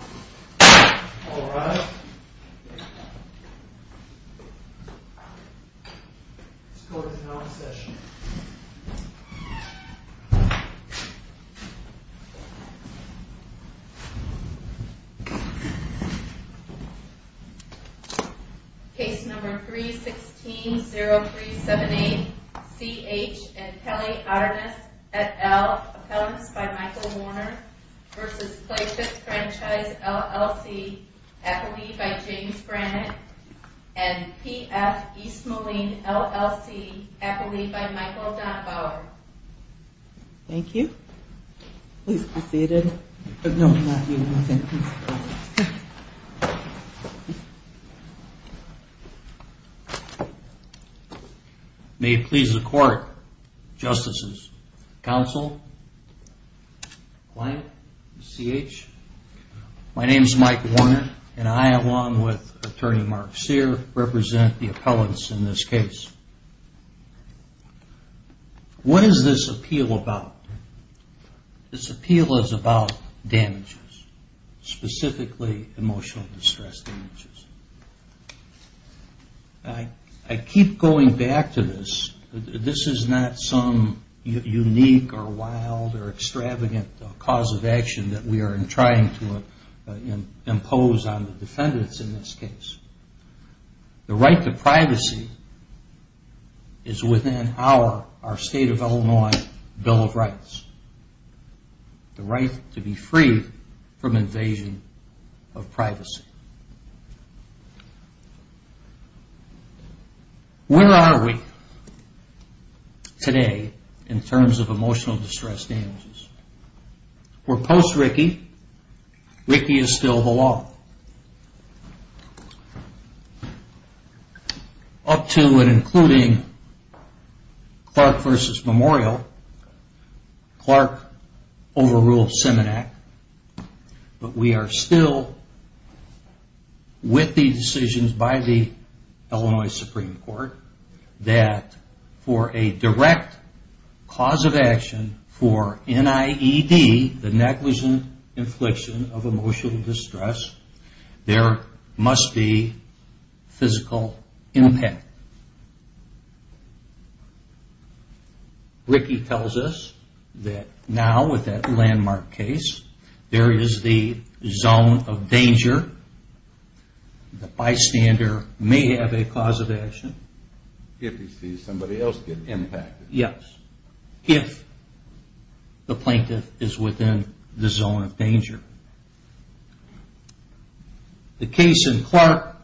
Alright, let's go ahead and have a session. Case number 316-0378, C.H. and Kelly Otterness, et al., appellants by Michael Warner v. Pla-Fit Franchise, LLC, appellee by James Brannett and P.F. East Moline, LLC, appellee by Michael Donahauer. Thank you. Please be seated. May it please the Court, Justices, Counsel, Client, C.H., my name is Mike Warner and I along with Attorney Mark Sear represent the appellants in this case. What is this appeal about? This appeal is about damages, specifically emotional distress damages. I keep going back to this. This is not some unique or wild or extravagant cause of action that we are trying to impose on the defendants in this case. The right to privacy is within our State of Illinois Bill of Rights. The right to be free from invasion of privacy. Where are we today in terms of emotional distress damages? We're post-Rickey. Rickey is still the law. Up to and including Clark v. Memorial, Clark overruled Seminac, but we are still with the decisions by the Illinois Supreme Court that for a direct cause of action for NIED, the negligent infliction of emotional distress, there must be physical impact. Rickey tells us that now with that landmark case, there is the zone of danger. The bystander may have a cause of action if the plaintiff is within the zone of danger. The case in Clark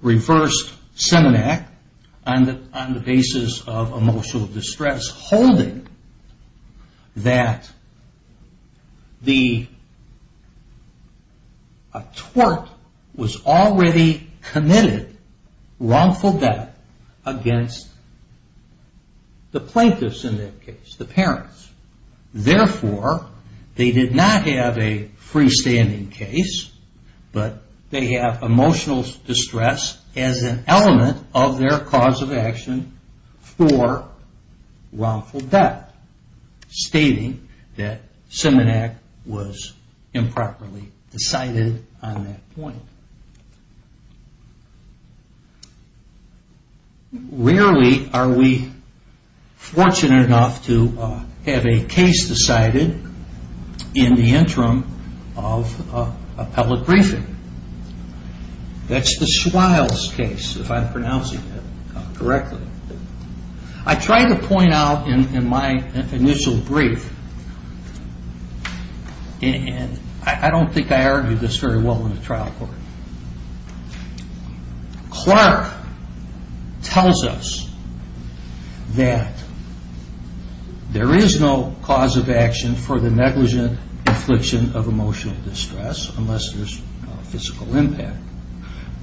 reversed Seminac on the basis of emotional distress, holding that a tort was already committed, wrongful death, against the plaintiffs in that case, the parents. Therefore, they did not have a freestanding case, but they have emotional distress as an element of their cause of action for wrongful death, stating that Seminac was improperly decided on that point. Rarely are we fortunate enough to have a case decided in the interim of appellate briefing. That's the Swiles case, if I'm pronouncing that correctly. I tried to point out in my initial brief, and I don't think I argued this very well in the trial court, Clark tells us that there is no cause of action for the negligent infliction of emotional distress unless there is physical impact.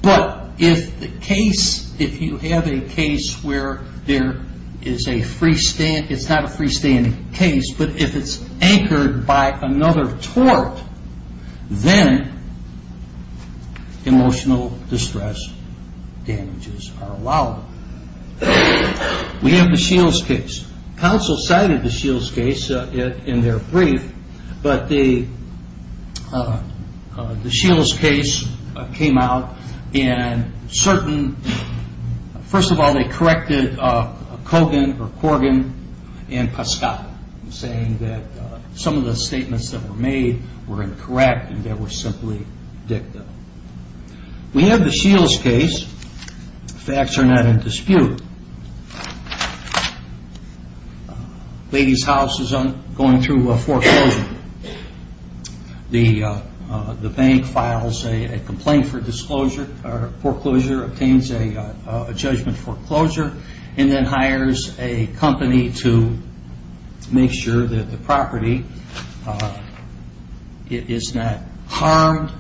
But if you have a case where there is a freestanding, it's not a freestanding case, but if it's anchored by another tort, then emotional distress damages are allowed. We have the Shields case. Counsel cited the Shields case in their brief, but the Shields case came out in certain, first of all, they corrected Kogan and Pasquale, saying that some of the statements that were made were incorrect and that were simply dicta. We have the Shields case. Facts are not in dispute. Ladies House is going through a foreclosure. The bank files a complaint for foreclosure, obtains a judgment foreclosure, and then hires a company to make sure that the property is not harmed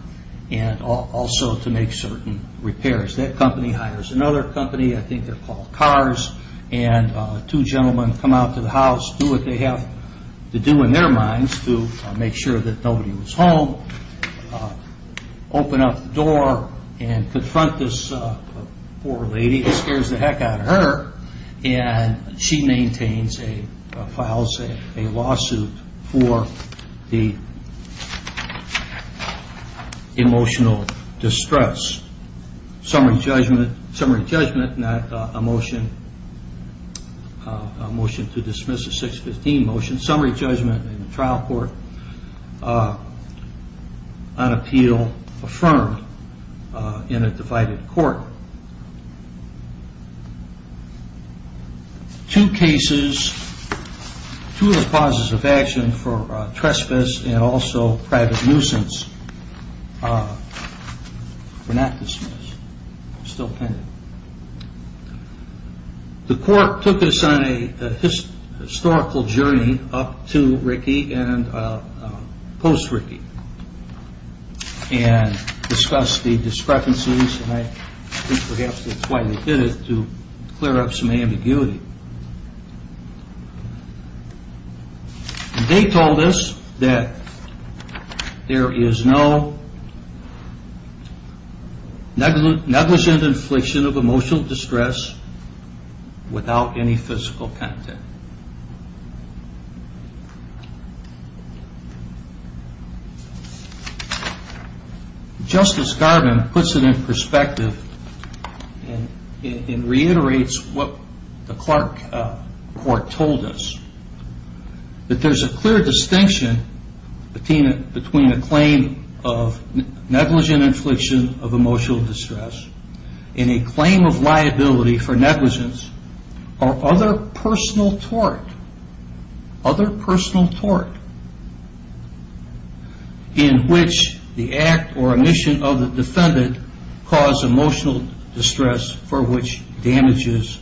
and also to make certain repairs. That company hires another company, I think they're called Kars, and two gentlemen come out to the house, do what they have to do in their minds to make sure that nobody was home, open up the door and confront this poor lady. And she maintains, files a lawsuit for the emotional distress summary judgment, not a motion to dismiss a 615 motion, summary judgment in the trial court on appeal affirmed in a divided court. Two cases, two of the causes of action for trespass and also private nuisance were not dismissed, still pending. The court took us on a historical journey up to Rickey and post-Rickey and discussed the discrepancies and I think perhaps that's why they did it, to clear up some ambiguity. They told us that there is no negligent infliction of emotional distress without any physical content. Justice Garvin puts it in perspective and reiterates what the Clark court told us. That there's a clear distinction between a claim of negligent infliction of emotional distress and a claim of liability for negligence or other personal tort. In which the act or omission of the defendant caused emotional distress for which damages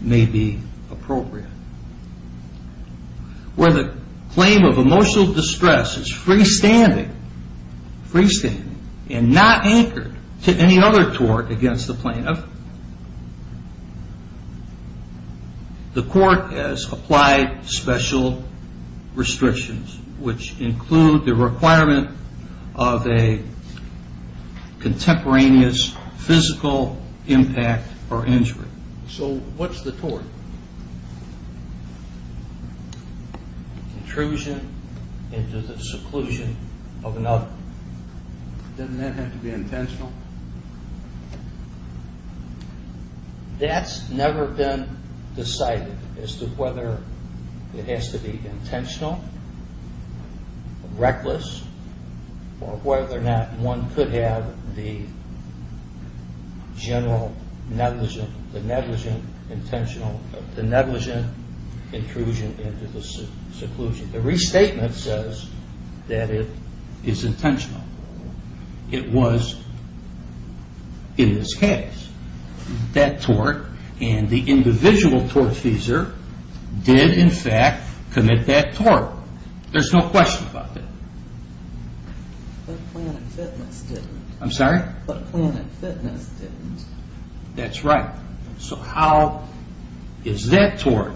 may be appropriate. Where the claim of emotional distress is freestanding and not anchored to any other tort against the plaintiff, the court has applied special restrictions which include the requirement of a contemporaneous physical impact or injury. So what's the tort? Intrusion into the seclusion of another. Doesn't that have to be intentional? That's never been decided as to whether it has to be intentional, reckless or whether or not one could have the general negligent intrusion into the seclusion. The restatement says that it is intentional. It was in this case. That tort and the individual tortfeasor did in fact commit that tort. There's no question about that. But Planet Fitness didn't. I'm sorry? But Planet Fitness didn't. That's right. So how is that tort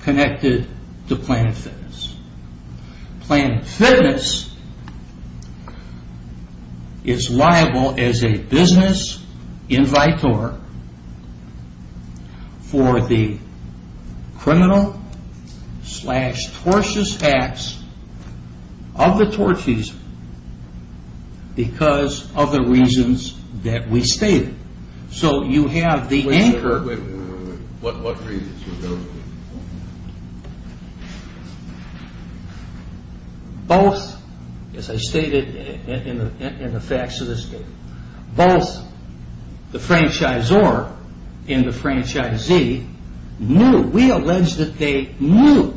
connected to Planet Fitness? Planet Fitness is liable as a business invitor for the criminal slash tortious acts of the tortfeasor because of the reasons that we stated. So you have the anchor. Wait, wait, wait. What reasons were those? Both, as I stated in the facts of this case, both the franchisor and the franchisee knew. We allege that they knew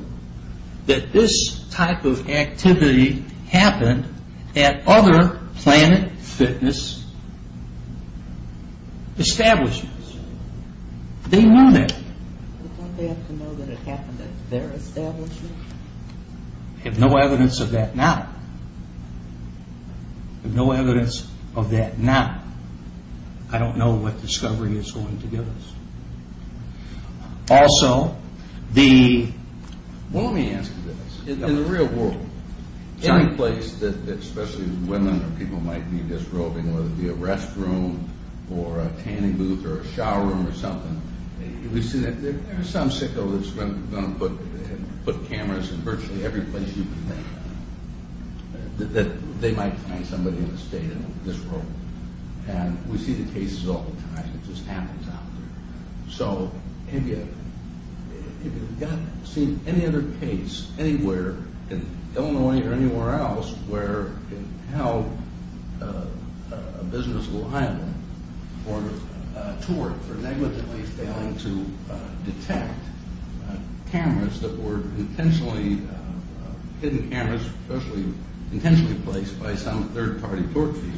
that this type of activity happened at other Planet Fitness establishments. They knew that. But don't they have to know that it happened at their establishment? I have no evidence of that now. I have no evidence of that now. I don't know what discovery is going to give us. Also, the... Well, let me ask you this. In the real world, any place that especially women or people might be disrobing, whether it be a restroom or a tanning booth or a shower room or something, we see that there's some sicko that's going to put cameras in virtually every place you can think of, that they might find somebody in the state and disrobe them. And we see the cases all the time. It just happens out there. So have you seen any other case anywhere in Illinois or anywhere else where a business liable for a tort for negligently failing to detect cameras that were intentionally hidden cameras, especially intentionally placed by some third-party tort feature?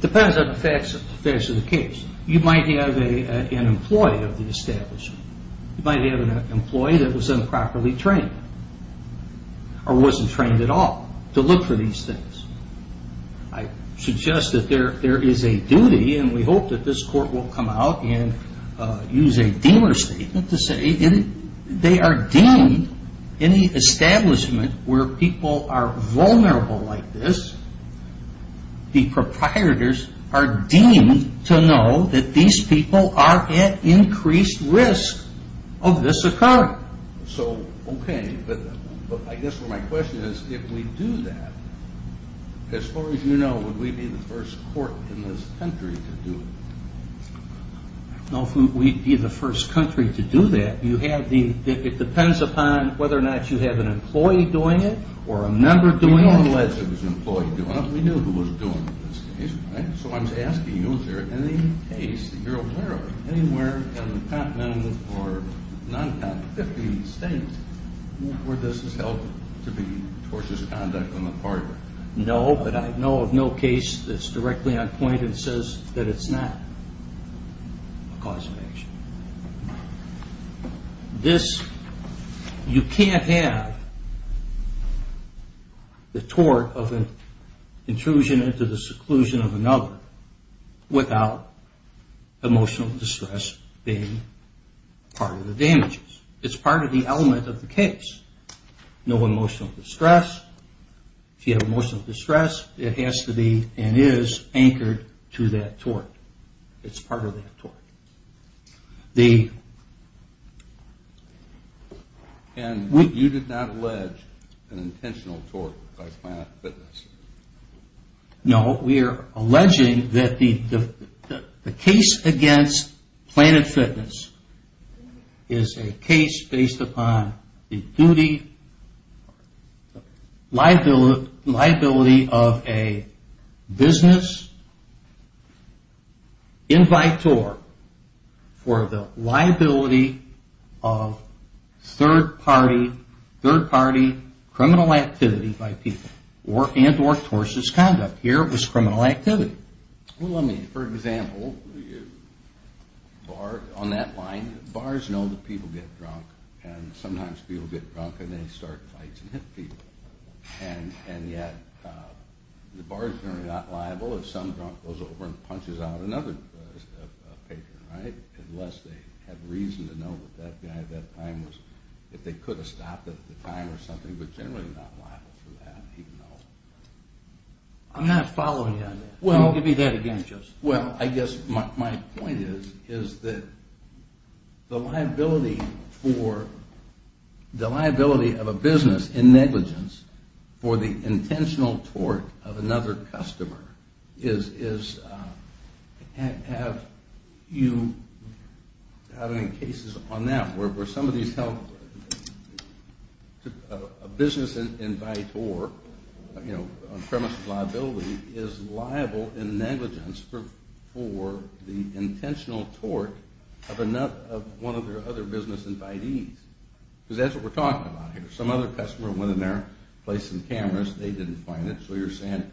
Depends on the facts of the case. You might have an employee of the establishment. You might have an employee that was improperly trained or wasn't trained at all to look for these things. I suggest that there is a duty, and we hope that this court will come out and use a deemer statement to say they are deemed in the establishment where people are vulnerable like this, the proprietors are deemed to know that these people are at increased risk of this occurring. So, okay, but I guess my question is, if we do that, as far as you know, would we be the first court in this country to do it? No, we'd be the first country to do that. It depends upon whether or not you have an employee doing it or a member doing it. Unless it was an employee doing it, we knew who was doing it in this case, right? So I'm just asking you, is there any case that you're aware of anywhere in the continent or non-continent, 50 states where this is held to be tortious conduct on the part of it? No, but I know of no case that's directly on point and says that it's not a cause of action. This, you can't have the tort of an intrusion into the seclusion of another without emotional distress being part of the damages. It's part of the element of the case. No emotional distress. If you have emotional distress, it has to be and is anchored to that tort. It's part of that tort. And you did not allege an intentional tort by Planet Fitness? No, we are alleging that the case against Planet Fitness is a case based upon the duty, liability of a business in vitro for the liability of third party criminal activity by people and or tortious conduct. Here it was criminal activity. Well, let me, for example, on that line, bars know that people get drunk and sometimes people get drunk and they start fights and hit people. And yet, the bar is generally not liable if some drunk goes over and punches out another patron, right? Unless they have reason to know that that guy at that time was, if they could have stopped at the time or something, but generally not liable for that, even though. I'm not following you on that. Well. Don't give me that again, Joseph. Well, I guess my point is that the liability for, the liability of a business in negligence for the intentional tort of another customer is, have you had any cases on that where somebody's held, a business in vitro, you know, premise of liability is liable in negligence for the intentional tort of one of their other business invitees. Because that's what we're talking about here. Some other customer went in there, placed some cameras, they didn't find it, so you're saying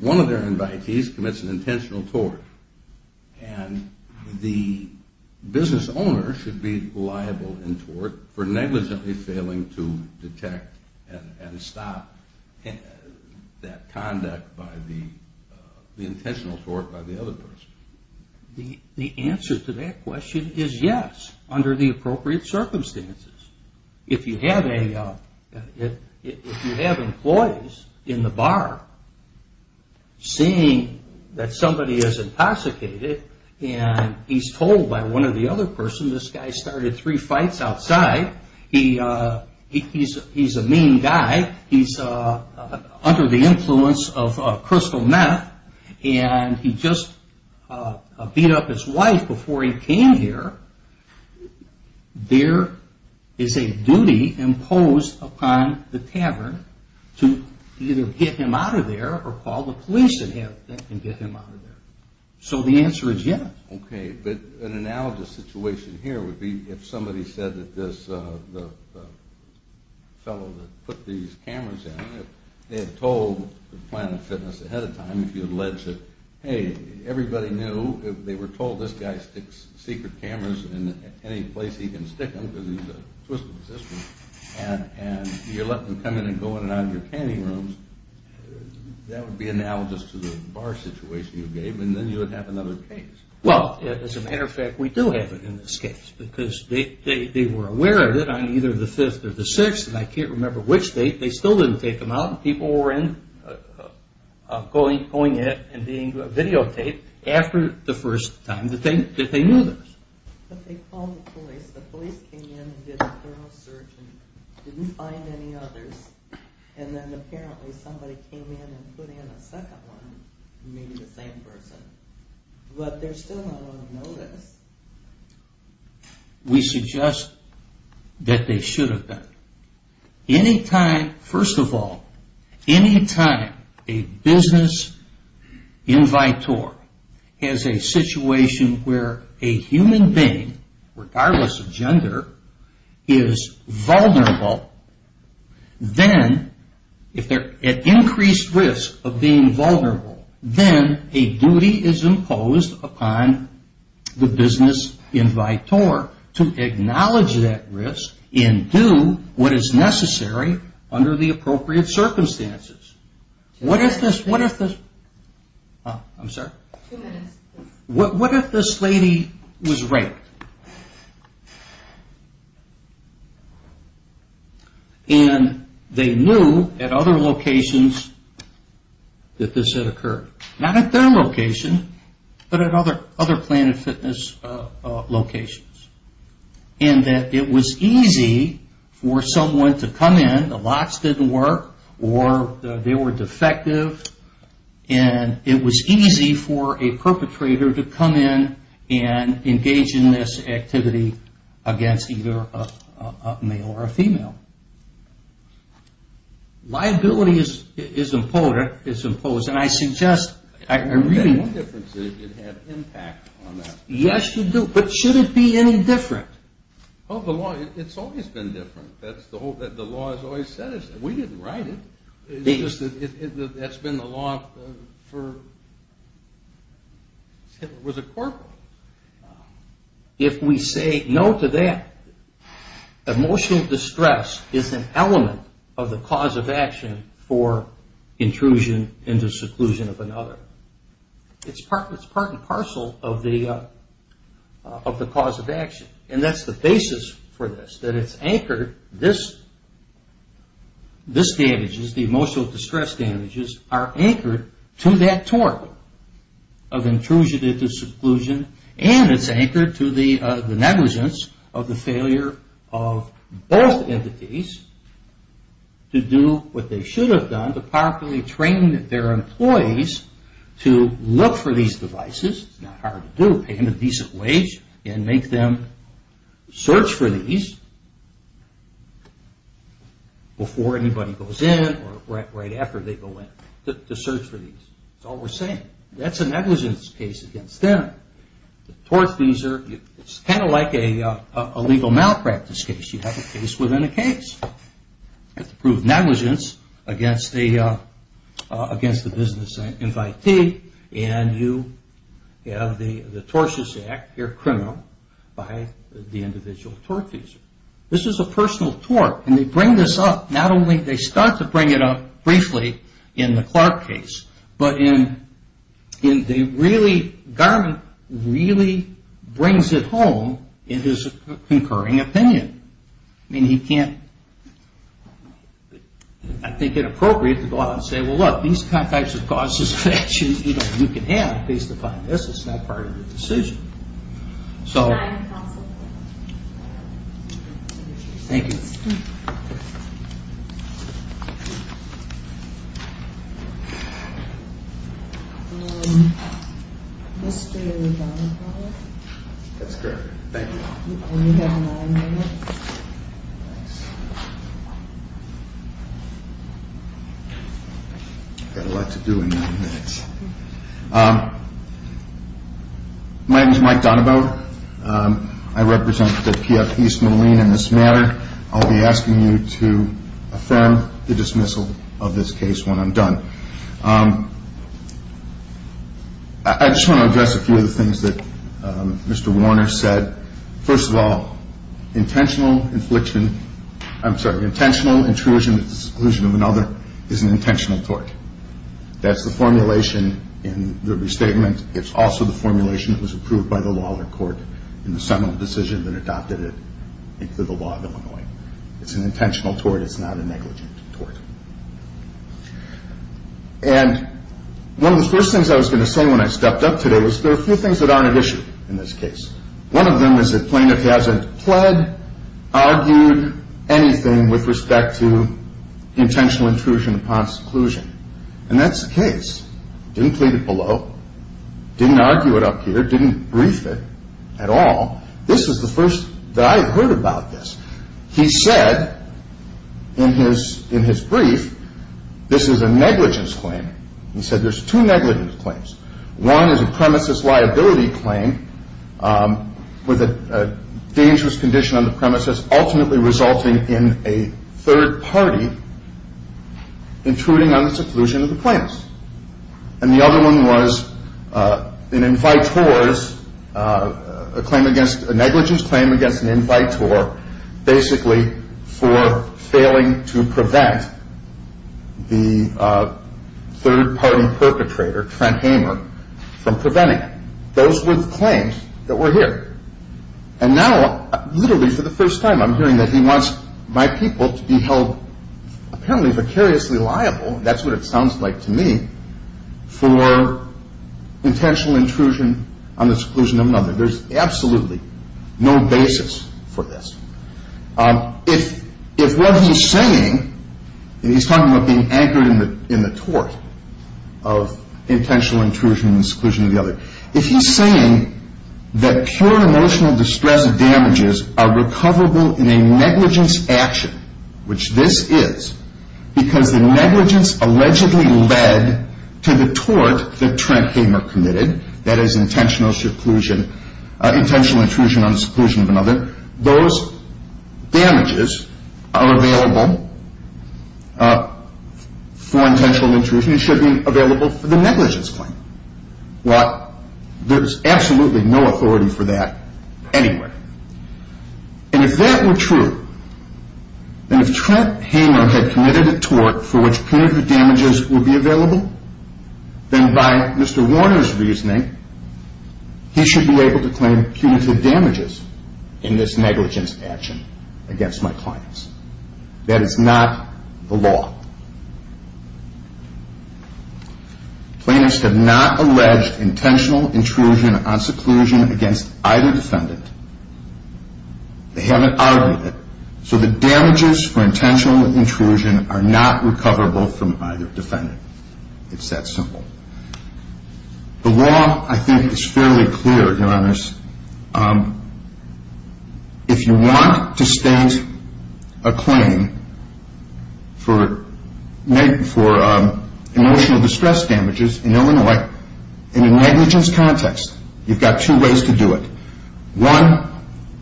one of their invitees commits an intentional tort. And the business owner should be liable in tort for negligently failing to detect and stop that conduct by the intentional tort by the other person. The answer to that question is yes, under the appropriate circumstances. If you have employees in the bar seeing that somebody is intoxicated and he's told by one of the other person, this guy started three fights outside, he's a mean guy, he's under the influence of crystal meth, and he just beat up his wife before he came here, there is a duty imposed upon the tavern to either get him out of there or call the police and get him out of there. So the answer is yes. Okay, but an analogous situation here would be if somebody said that this fellow that put these cameras in, they had told the plant of fitness ahead of time, if you allege that, hey, everybody knew, they were told this guy sticks secret cameras in any place he can stick them because he's a twist of the system, and you let them come in and go in and out of your canning rooms, that would be analogous to the bar situation you gave, and then you would have another case. Well, as a matter of fact, we do have it in this case because they were aware of it on either the 5th or the 6th, and I can't remember which date, they still didn't take them out, and people were going in and being videotaped after the first time that they knew this. But they called the police, the police came in and did a thorough search and didn't find any others, and then apparently somebody came in and put in a second one, maybe the same person, but there's still not a lot of notice. We suggest that they should have done it. Anytime, first of all, anytime a business invitor has a situation where a human being, regardless of gender, is vulnerable, then if they're at increased risk of being vulnerable, then a duty is imposed upon the business invitor to acknowledge that risk and do what is necessary under the appropriate circumstances. What if this lady was raped, and they knew at other locations that this had occurred, not at their location, but at other Planet Fitness locations, and that it was easy for someone to come in, the locks didn't work, or they were defective, and it was easy for a perpetrator to come in and engage in this activity against either a male or a female. Liability is imposed, and I suggest... Yes, you do, but should it be any different? Well, the law, it's always been different. The law has always said it's different. We didn't write it. It's just that that's been the law for... It was a court rule. If we say no to that, emotional distress is an element of the cause of action for intrusion into seclusion of another. It's part and parcel of the cause of action, and that's the basis for this, that it's anchored. This damages, the emotional distress damages, are anchored to that tort of intrusion into seclusion, and it's anchored to the negligence of the failure of both entities to do what they should have done to properly train their employees to look for these devices. It's not hard to do, pay them a decent wage and make them search for these before anybody goes in or right after they go in, to search for these. That's all we're saying. That's a negligence case against them. The tortfeasor, it's kind of like a legal malpractice case. You have a case within a case. You have to prove negligence against the business invitee, and you have the tortious act, you're a criminal by the individual tortfeasor. This is a personal tort, and they bring this up. Not only do they start to bring it up briefly in the Clark case, but the government really brings it home in his concurring opinion. I mean, he can't, I think it appropriate to go out and say, well, look, these types of causes of action you can have, at least to find this is not part of your decision. So, thank you. Mr. Donabowler? That's correct. Thank you. You've got nine minutes. I've got a lot to do in nine minutes. My name is Mike Donabowler. I represent the PF East Moline in this matter. I'll be asking you to affirm the dismissal of this case when I'm done. I just want to address a few of the things that Mr. Warner said. First of all, intentional infliction, I'm sorry, intentional intrusion with the exclusion of another is an intentional tort. That's the formulation in the restatement. It's also the formulation that was approved by the law and the court in the seminal decision that adopted it into the law of Illinois. It's an intentional tort. It's not a negligent tort. And one of the first things I was going to say when I stepped up today was there are a few things that aren't at issue in this case. One of them is that plaintiff hasn't pled, argued, anything with respect to intentional intrusion upon seclusion. And that's the case. Didn't plead it below. Didn't argue it up here. Didn't brief it at all. This is the first that I had heard about this. He said in his brief this is a negligence claim. He said there's two negligence claims. One is a premises liability claim with a dangerous condition on the premises, ultimately resulting in a third party intruding on the seclusion of the plaintiff. And the other one was an invite tort, a negligence claim against an invite tort, basically for failing to prevent the third party perpetrator, Trent Hamer, from preventing it. Those were the claims that were here. And now literally for the first time I'm hearing that he wants my people to be held apparently precariously liable. That's what it sounds like to me for intentional intrusion on the seclusion of another. There's absolutely no basis for this. If what he's saying, and he's talking about being anchored in the tort of intentional intrusion and seclusion of the other, if he's saying that pure emotional distress damages are recoverable in a negligence action, which this is because the negligence allegedly led to the tort that Trent Hamer committed, that is intentional seclusion, intentional intrusion on the seclusion of another, those damages are available for intentional intrusion. It should be available for the negligence claim. There's absolutely no authority for that anyway. And if that were true, and if Trent Hamer had committed a tort for which punitive damages would be available, then by Mr. Warner's reasoning, he should be able to claim punitive damages in this negligence action against my clients. That is not the law. Plaintiffs have not alleged intentional intrusion on seclusion against either defendant. They haven't argued it. So the damages for intentional intrusion are not recoverable from either defendant. It's that simple. The law, I think, is fairly clear, Your Honors. If you want to state a claim for emotional distress damages in Illinois in a negligence context, you've got two ways to do it. One,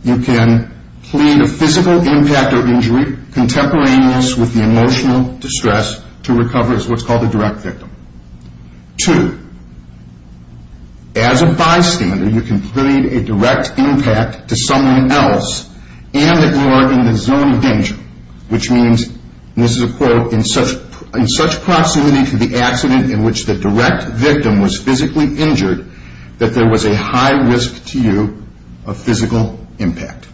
you can plead a physical impact or injury contemporaneous with the emotional distress to recover as what's called a direct victim. Two, as a bystander, you can plead a direct impact to someone else and ignore in the zone of danger, which means, and this is a quote, in such proximity to the accident in which the direct victim was physically injured that there was a high risk to you of physical impact.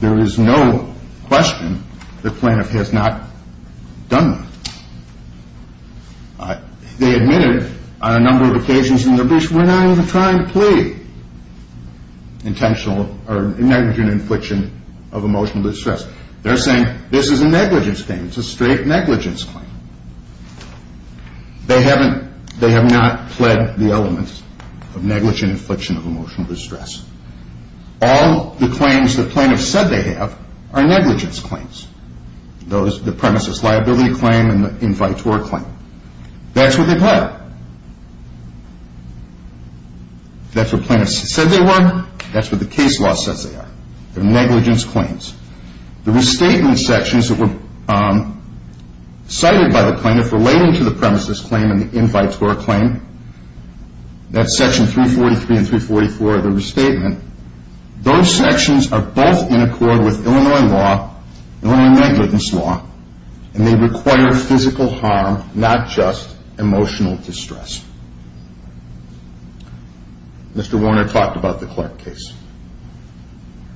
There is no question that plaintiff has not done that. They admitted on a number of occasions in their briefs, we're not even trying to plead negligent infliction of emotional distress. They're saying this is a negligence claim. It's a straight negligence claim. They have not pled the elements of negligent infliction of emotional distress. All the claims the plaintiff said they have are negligence claims, the premises liability claim and the invitor claim. That's what they've had. That's what plaintiffs said they were. That's what the case law says they are. They're negligence claims. The restatement sections that were cited by the plaintiff relating to the premises claim and the invitor claim, that's section 343 and 344 of the restatement. Those sections are both in accord with Illinois law, Illinois negligence law, and they require physical harm, not just emotional distress. Mr. Warner talked about the Clark case.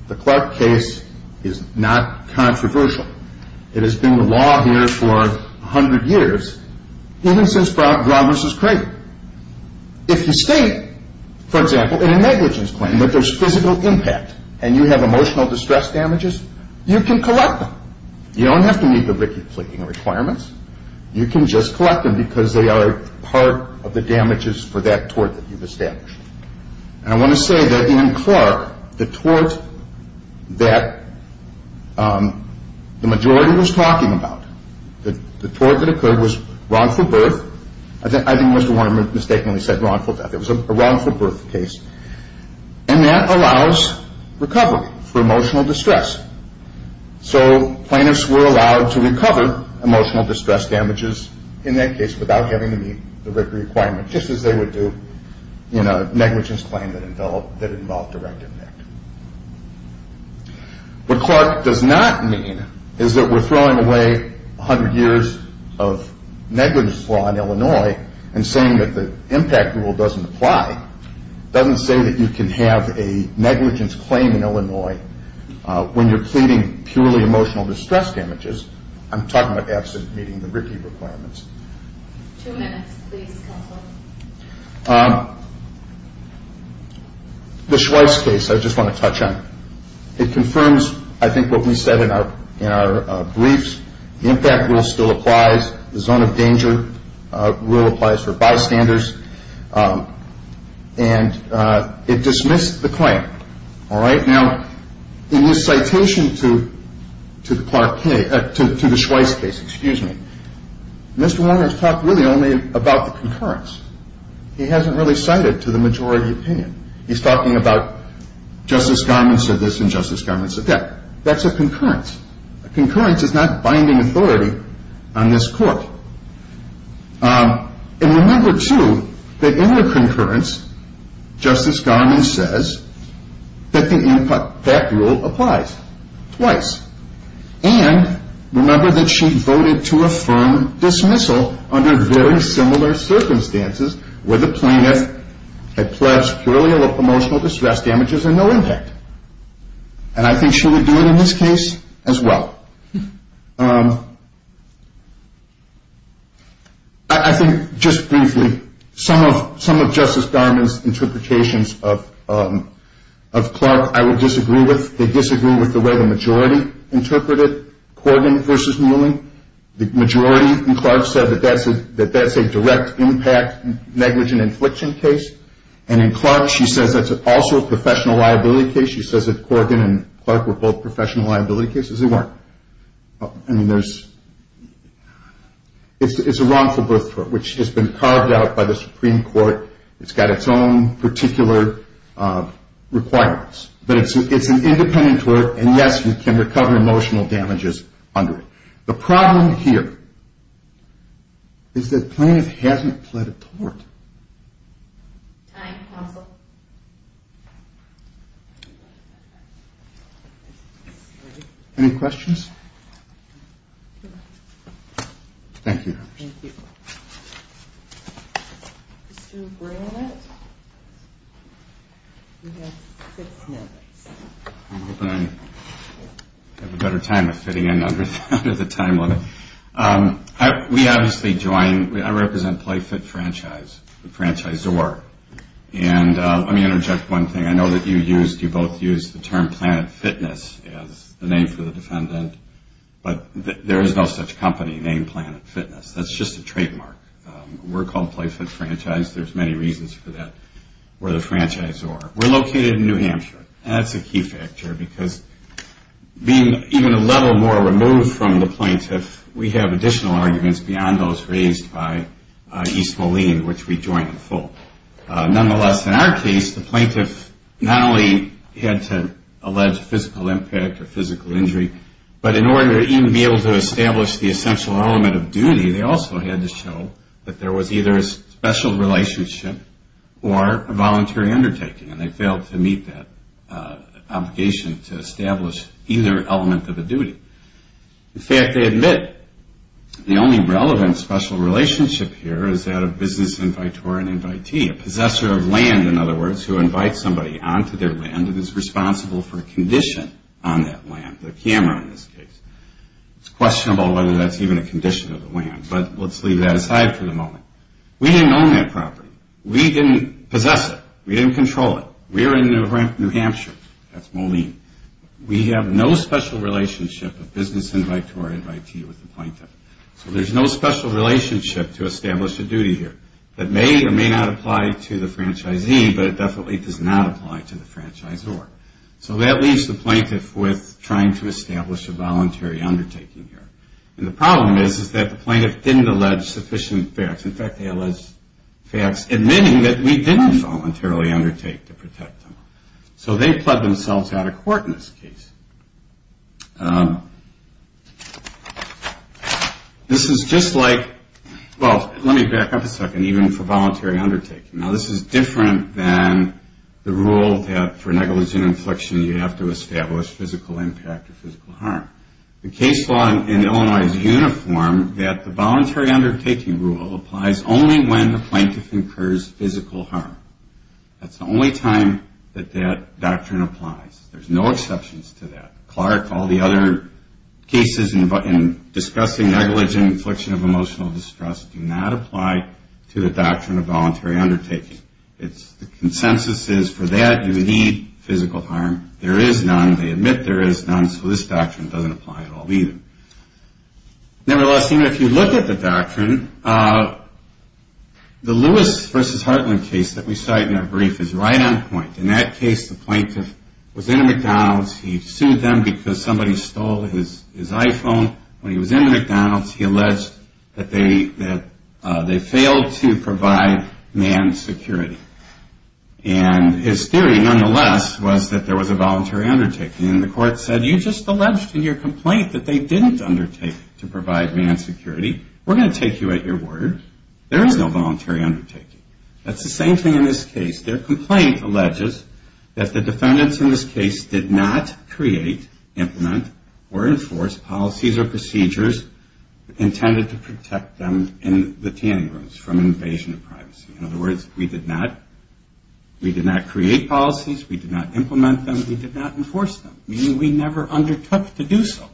The Clark case is not controversial. It has been the law here for 100 years, even since Roberts was created. If you state, for example, in a negligence claim that there's physical impact and you have emotional distress damages, you can collect them. You don't have to meet the Ricky Fleeting requirements. You can just collect them because they are part of the damages for that tort that you've established. And I want to say that in Clark, the tort that the majority was talking about, the tort that occurred was wrongful birth. I think Mr. Warner mistakenly said wrongful death. It was a wrongful birth case, and that allows recovery for emotional distress. So plaintiffs were allowed to recover emotional distress damages in that case without having to meet the Ricky requirement, just as they would do in a negligence claim that involved direct impact. What Clark does not mean is that we're throwing away 100 years of negligence law in Illinois and saying that the impact rule doesn't apply. It doesn't say that you can have a negligence claim in Illinois when you're pleading purely emotional distress damages. I'm talking about absent meeting the Ricky requirements. Two minutes, please, counsel. The Schweitz case I just want to touch on. It confirms, I think, what we said in our briefs. The impact rule still applies. The zone of danger rule applies for bystanders. And it dismissed the claim. Now, in his citation to the Schweitz case, Mr. Warner has talked really only about the concurrence. He hasn't really cited to the majority opinion. He's talking about Justice Garment said this and Justice Garment said that. That's a concurrence. A concurrence is not binding authority on this court. And remember, too, that in the concurrence, Justice Garment says that the impact rule applies twice. And remember that she voted to affirm dismissal under very similar circumstances where the plaintiff had pledged purely emotional distress damages and no impact. And I think she would do it in this case as well. I think just briefly, some of Justice Garment's interpretations of Clark I would disagree with. They disagree with the way the majority interpreted Corgan v. Muelling. The majority in Clark said that that's a direct impact negligent infliction case. And in Clark, she says that's also a professional liability case. She says that Corgan and Clark were both professional liability cases. They weren't. I mean, it's a wrongful birth tort, which has been carved out by the Supreme Court. It's got its own particular requirements. But it's an independent tort, and, yes, you can recover emotional damages under it. The problem here is that plaintiff hasn't pled a tort. Time, counsel. Any questions? Thank you. Thank you. Mr. Brandt, you have six minutes. I'm hoping I have a better time with fitting in under the time limit. We obviously join, I represent PlayFit Franchise, the franchisor. And let me interject one thing. I know that you used, you both used the term Planet Fitness as the name for the defendant, but there is no such company named Planet Fitness. That's just a trademark. We're called PlayFit Franchise. There's many reasons for that. We're the franchisor. We're located in New Hampshire, and that's a key factor, because being even a little more removed from the plaintiff, we have additional arguments beyond those raised by East Moline, which we join in full. Nonetheless, in our case, the plaintiff not only had to allege physical impact or physical injury, but in order to even be able to establish the essential element of duty, they also had to show that there was either a special relationship or a voluntary undertaking, and they failed to meet that obligation to establish either element of a duty. In fact, they admit the only relevant special relationship here is that of business invitor and invitee, a possessor of land, in other words, who invites somebody onto their land and is responsible for a condition on that land, their camera in this case. It's questionable whether that's even a condition of the land, but let's leave that aside for the moment. We didn't own that property. We didn't possess it. We didn't control it. We're in New Hampshire. That's Moline. We have no special relationship of business invite to our invitee with the plaintiff, so there's no special relationship to establish a duty here. It may or may not apply to the franchisee, but it definitely does not apply to the franchisor, so that leaves the plaintiff with trying to establish a voluntary undertaking here, and the problem is that the plaintiff didn't allege sufficient facts. In fact, they allege facts admitting that we didn't voluntarily undertake to protect them, so they've pled themselves out of court in this case. This is just like, well, let me back up a second, even for voluntary undertaking. Now, this is different than the rule that for negligent infliction, you have to establish physical impact or physical harm. The case law in Illinois is uniform that the voluntary undertaking rule applies only when the plaintiff incurs physical harm. That's the only time that that doctrine applies. There's no exceptions to that. Clark, all the other cases in discussing negligent infliction of emotional distress, do not apply to the doctrine of voluntary undertaking. The consensus is for that, you need physical harm. There is none. They admit there is none, so this doctrine doesn't apply at all either. Nevertheless, even if you look at the doctrine, the Lewis v. Hartland case that we cite in our brief is right on point. In that case, the plaintiff was in a McDonald's. He sued them because somebody stole his iPhone. When he was in the McDonald's, he alleged that they failed to provide man security. And his theory, nonetheless, was that there was a voluntary undertaking, and the court said, you just alleged in your complaint that they didn't undertake to provide man security. We're going to take you at your word. There is no voluntary undertaking. That's the same thing in this case. Their complaint alleges that the defendants in this case did not create, implement, or enforce policies or procedures intended to protect them in the tanning rooms from invasion of privacy. In other words, we did not create policies. We did not implement them. We did not enforce them, meaning we never undertook to do so.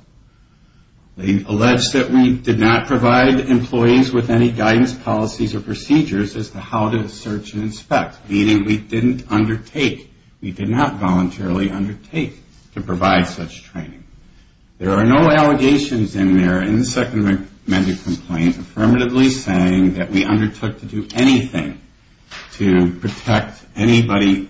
as to how to search and inspect, meaning we didn't undertake, we did not voluntarily undertake to provide such training. There are no allegations in there in the second amendment complaint affirmatively saying that we undertook to do anything to protect anybody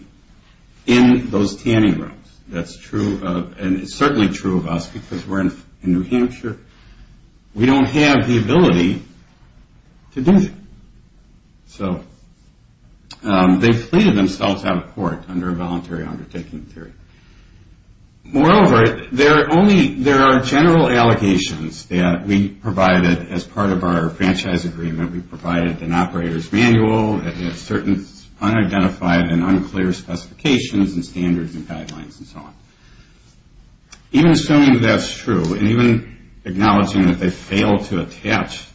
in those tanning rooms. That's true, and it's certainly true of us because we're in New Hampshire. We don't have the ability to do that. So they pleaded themselves out of court under a voluntary undertaking theory. Moreover, there are general allegations that we provided as part of our franchise agreement. We provided an operator's manual, certain unidentified and unclear specifications and standards and guidelines and so on. Even assuming that's true and even acknowledging that they failed to attach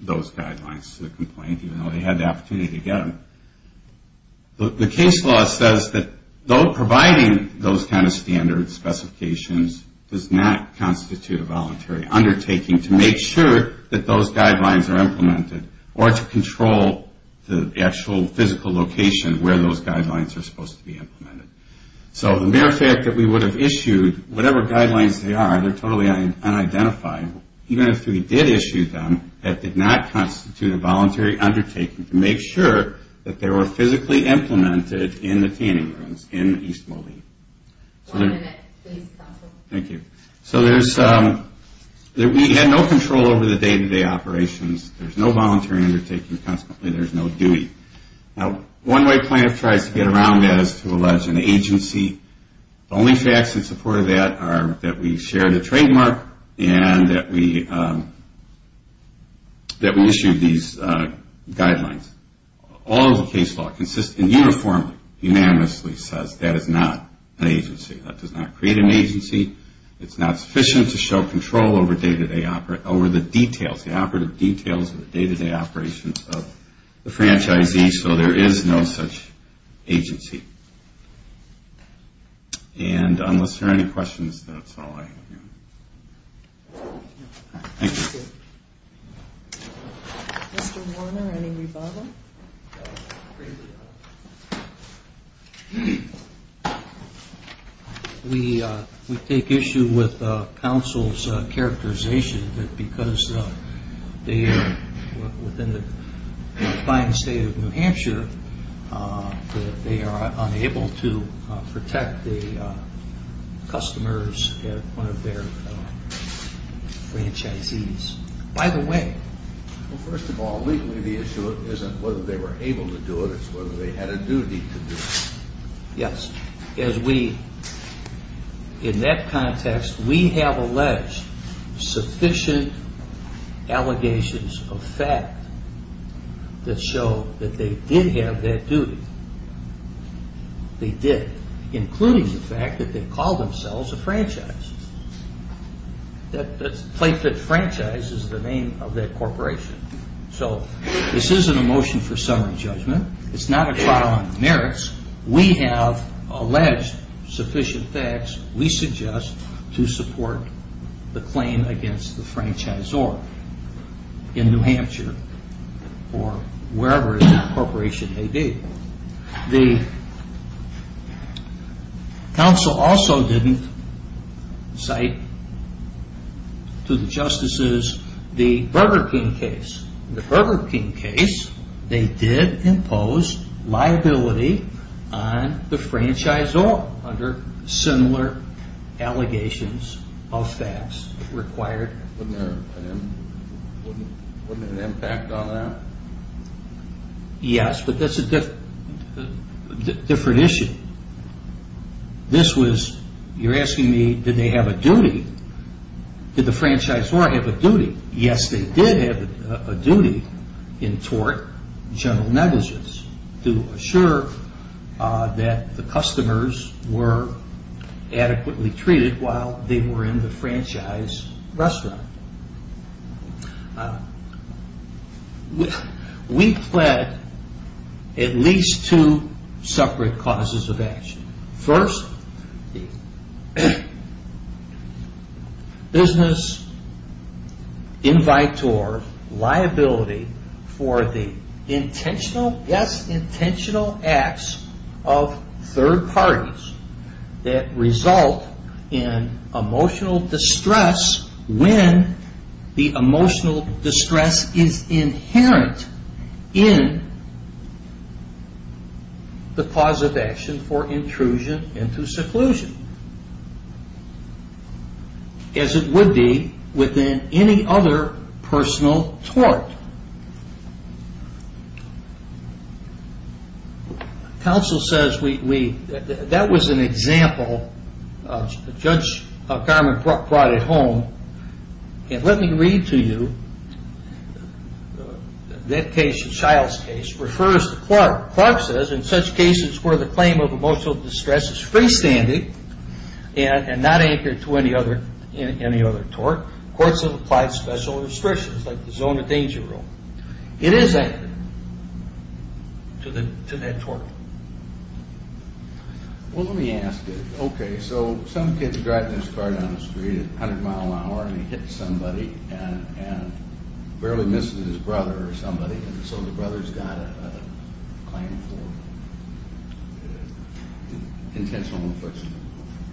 those guidelines to the complaint even though they had the opportunity to get them, the case law says that though providing those kind of standards, specifications does not constitute a voluntary undertaking to make sure that those guidelines are implemented or to control the actual physical location where those guidelines are supposed to be implemented. So the mere fact that we would have issued whatever guidelines they are, they're totally unidentified. Even if we did issue them, that did not constitute a voluntary undertaking to make sure that they were physically implemented in the tanning rooms in East Moline. One minute, please, counsel. Thank you. So we had no control over the day-to-day operations. There's no voluntary undertaking consequently. There's no dewey. Now, one way plaintiff tries to get around that is to allege an agency. The only facts in support of that are that we share the trademark and that we issued these guidelines. All of the case law consistently and uniformly, unanimously says that is not an agency. That does not create an agency. It's not sufficient to show control over the details, the operative details of the day-to-day operations of the franchisee, so there is no such agency. And unless there are any questions, that's all I have. Thank you. Mr. Warner, any rebuttal? We take issue with counsel's characterization that because they are within the defined state of New Hampshire, that they are unable to protect the customers at one of their franchisees. Well, first of all, legally the issue isn't whether they were able to do it. It's whether they had a duty to do it. Yes. In that context, we have alleged sufficient allegations of fact that show that they did have that duty. They did, including the fact that they called themselves a franchise. That franchise is the name of that corporation. So this isn't a motion for summary judgment. It's not a trial on merits. We have alleged sufficient facts, we suggest, to support the claim against the franchisor in New Hampshire or wherever the corporation may be. The counsel also didn't cite to the justices the Burger King case. In the Burger King case, they did impose liability on the franchisor under similar allegations of facts required. Wasn't there an impact on that? Yes, but that's a different issue. This was, you're asking me, did they have a duty? Did the franchisor have a duty? Yes, they did have a duty in tort, general negligence, to assure that the customers were adequately treated while they were in the franchise restaurant. We pled at least two separate causes of action. First, the business in vitor liability for the intentional, yes, intentional acts of third parties that result in emotional distress when the emotional distress is inherent in the cause of action for intrusion into seclusion as it would be within any other personal tort. Counsel says we, that was an example. Judge Garman brought it home. And let me read to you that case, the Shiles case, refers to Clark. Clark says, in such cases where the claim of emotional distress is freestanding and not anchored to any other tort, courts have applied special restrictions like the zone of danger rule. It is anchored to that tort. Well, let me ask you. Okay, so some kid's driving his car down the street at 100 mile an hour and he hits somebody and barely misses his brother or somebody, so the brother's got a claim for intentional inflection of emotional distress.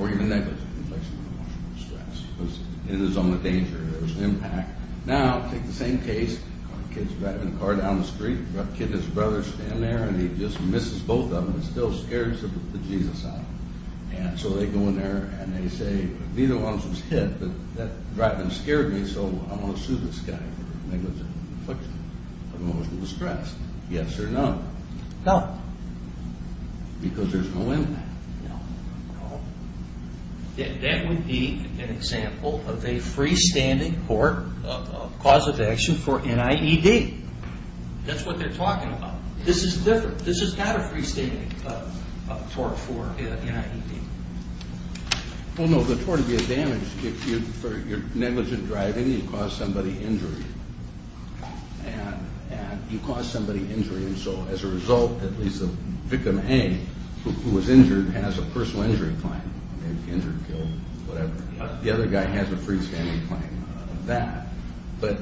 Or even negligent inflection of emotional distress. It is on the danger, there's an impact. Now, take the same case, kid's driving a car down the street, kid and his brother stand there and he just misses both of them and still scares the Jesus out of them. And so they go in there and they say, neither one of them was hit, but that driving scared me so I'm going to sue this guy for negligent inflection of emotional distress. Yes or no? No. Because there's no impact. No. That would be an example of a freestanding court of cause of action for NIED. That's what they're talking about. This is different. This is not a freestanding tort for NIED. Well, no, the tort would be a damage. If you're negligent driving, you cause somebody injury. And you cause somebody injury and so as a result, at least the victim A, who was injured, has a personal injury claim. Injured, killed, whatever. The other guy has a freestanding claim of that. But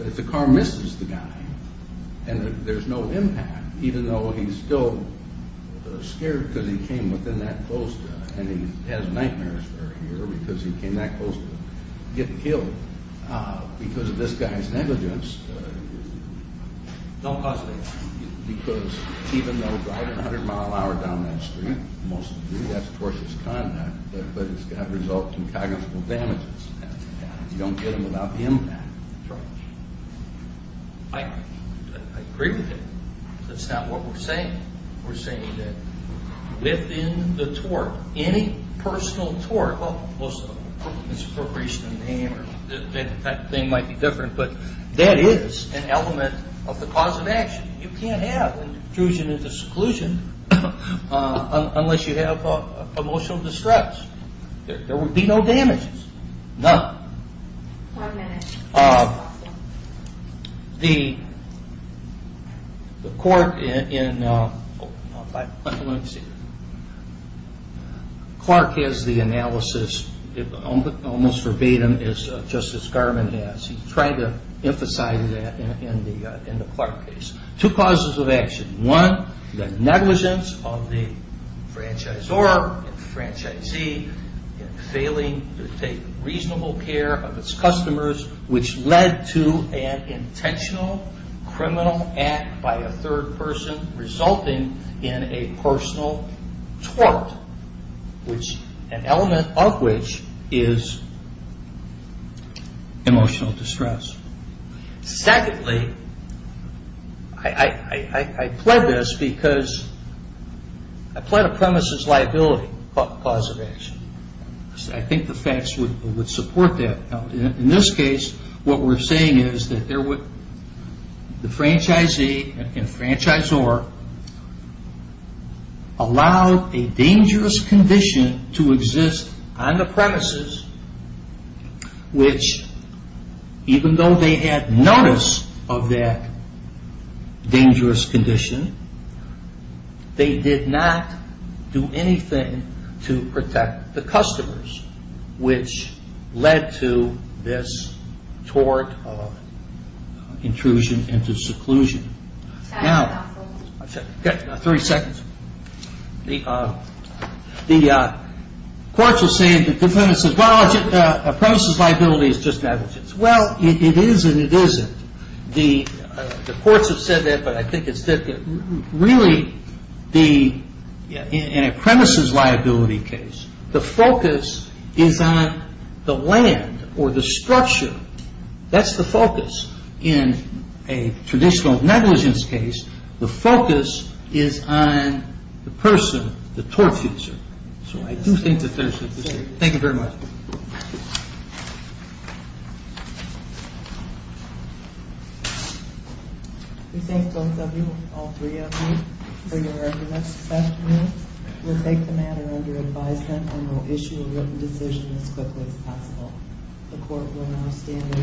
if the car misses the guy and there's no impact, even though he's still scared because he came within that close to him and he has nightmares for a year because he came that close to him, getting killed because of this guy's negligence. Don't cause negligence. Because even though driving a hundred mile an hour down that street, most of you, that's tortious conduct, but it's got to result in cognitive damages. You don't get them without the impact. That's right. I agree with him. That's not what we're saying. We're saying that within the tort, any personal tort, well, most of them, appropriation of the name, that thing might be different, but that is an element of the cause of action. You can't have intrusion and exclusion unless you have emotional distress. There would be no damages. None. One minute. Clark has the analysis, almost verbatim, just as Garman has. He's trying to emphasize that in the Clark case. Two causes of action. One, the negligence of the franchisor and the franchisee in failing to take reasonable care of its customers, which led to an intentional criminal act by a third person, resulting in a personal tort, an element of which is emotional distress. Secondly, I pled this because I pled a premises liability cause of action. I think the facts would support that. In this case, what we're saying is that the franchisee and franchisor allowed a dangerous condition to exist on the premises, which even though they had notice of that dangerous condition, they did not do anything to protect the customers, which led to this tort of intrusion into seclusion. Now, I've got 30 seconds. The courts are saying that the premises liability is just negligence. Well, it is and it isn't. The courts have said that, but I think it's really in a premises liability case, the focus is on the land or the structure. That's the focus. In a traditional negligence case, the focus is on the person, the tort user. So I do think that there's a dispute. Thank you very much. We thank both of you, all three of you, for your arguments this afternoon. We'll take the matter under advisement The court will now stand and re-process for a quorum.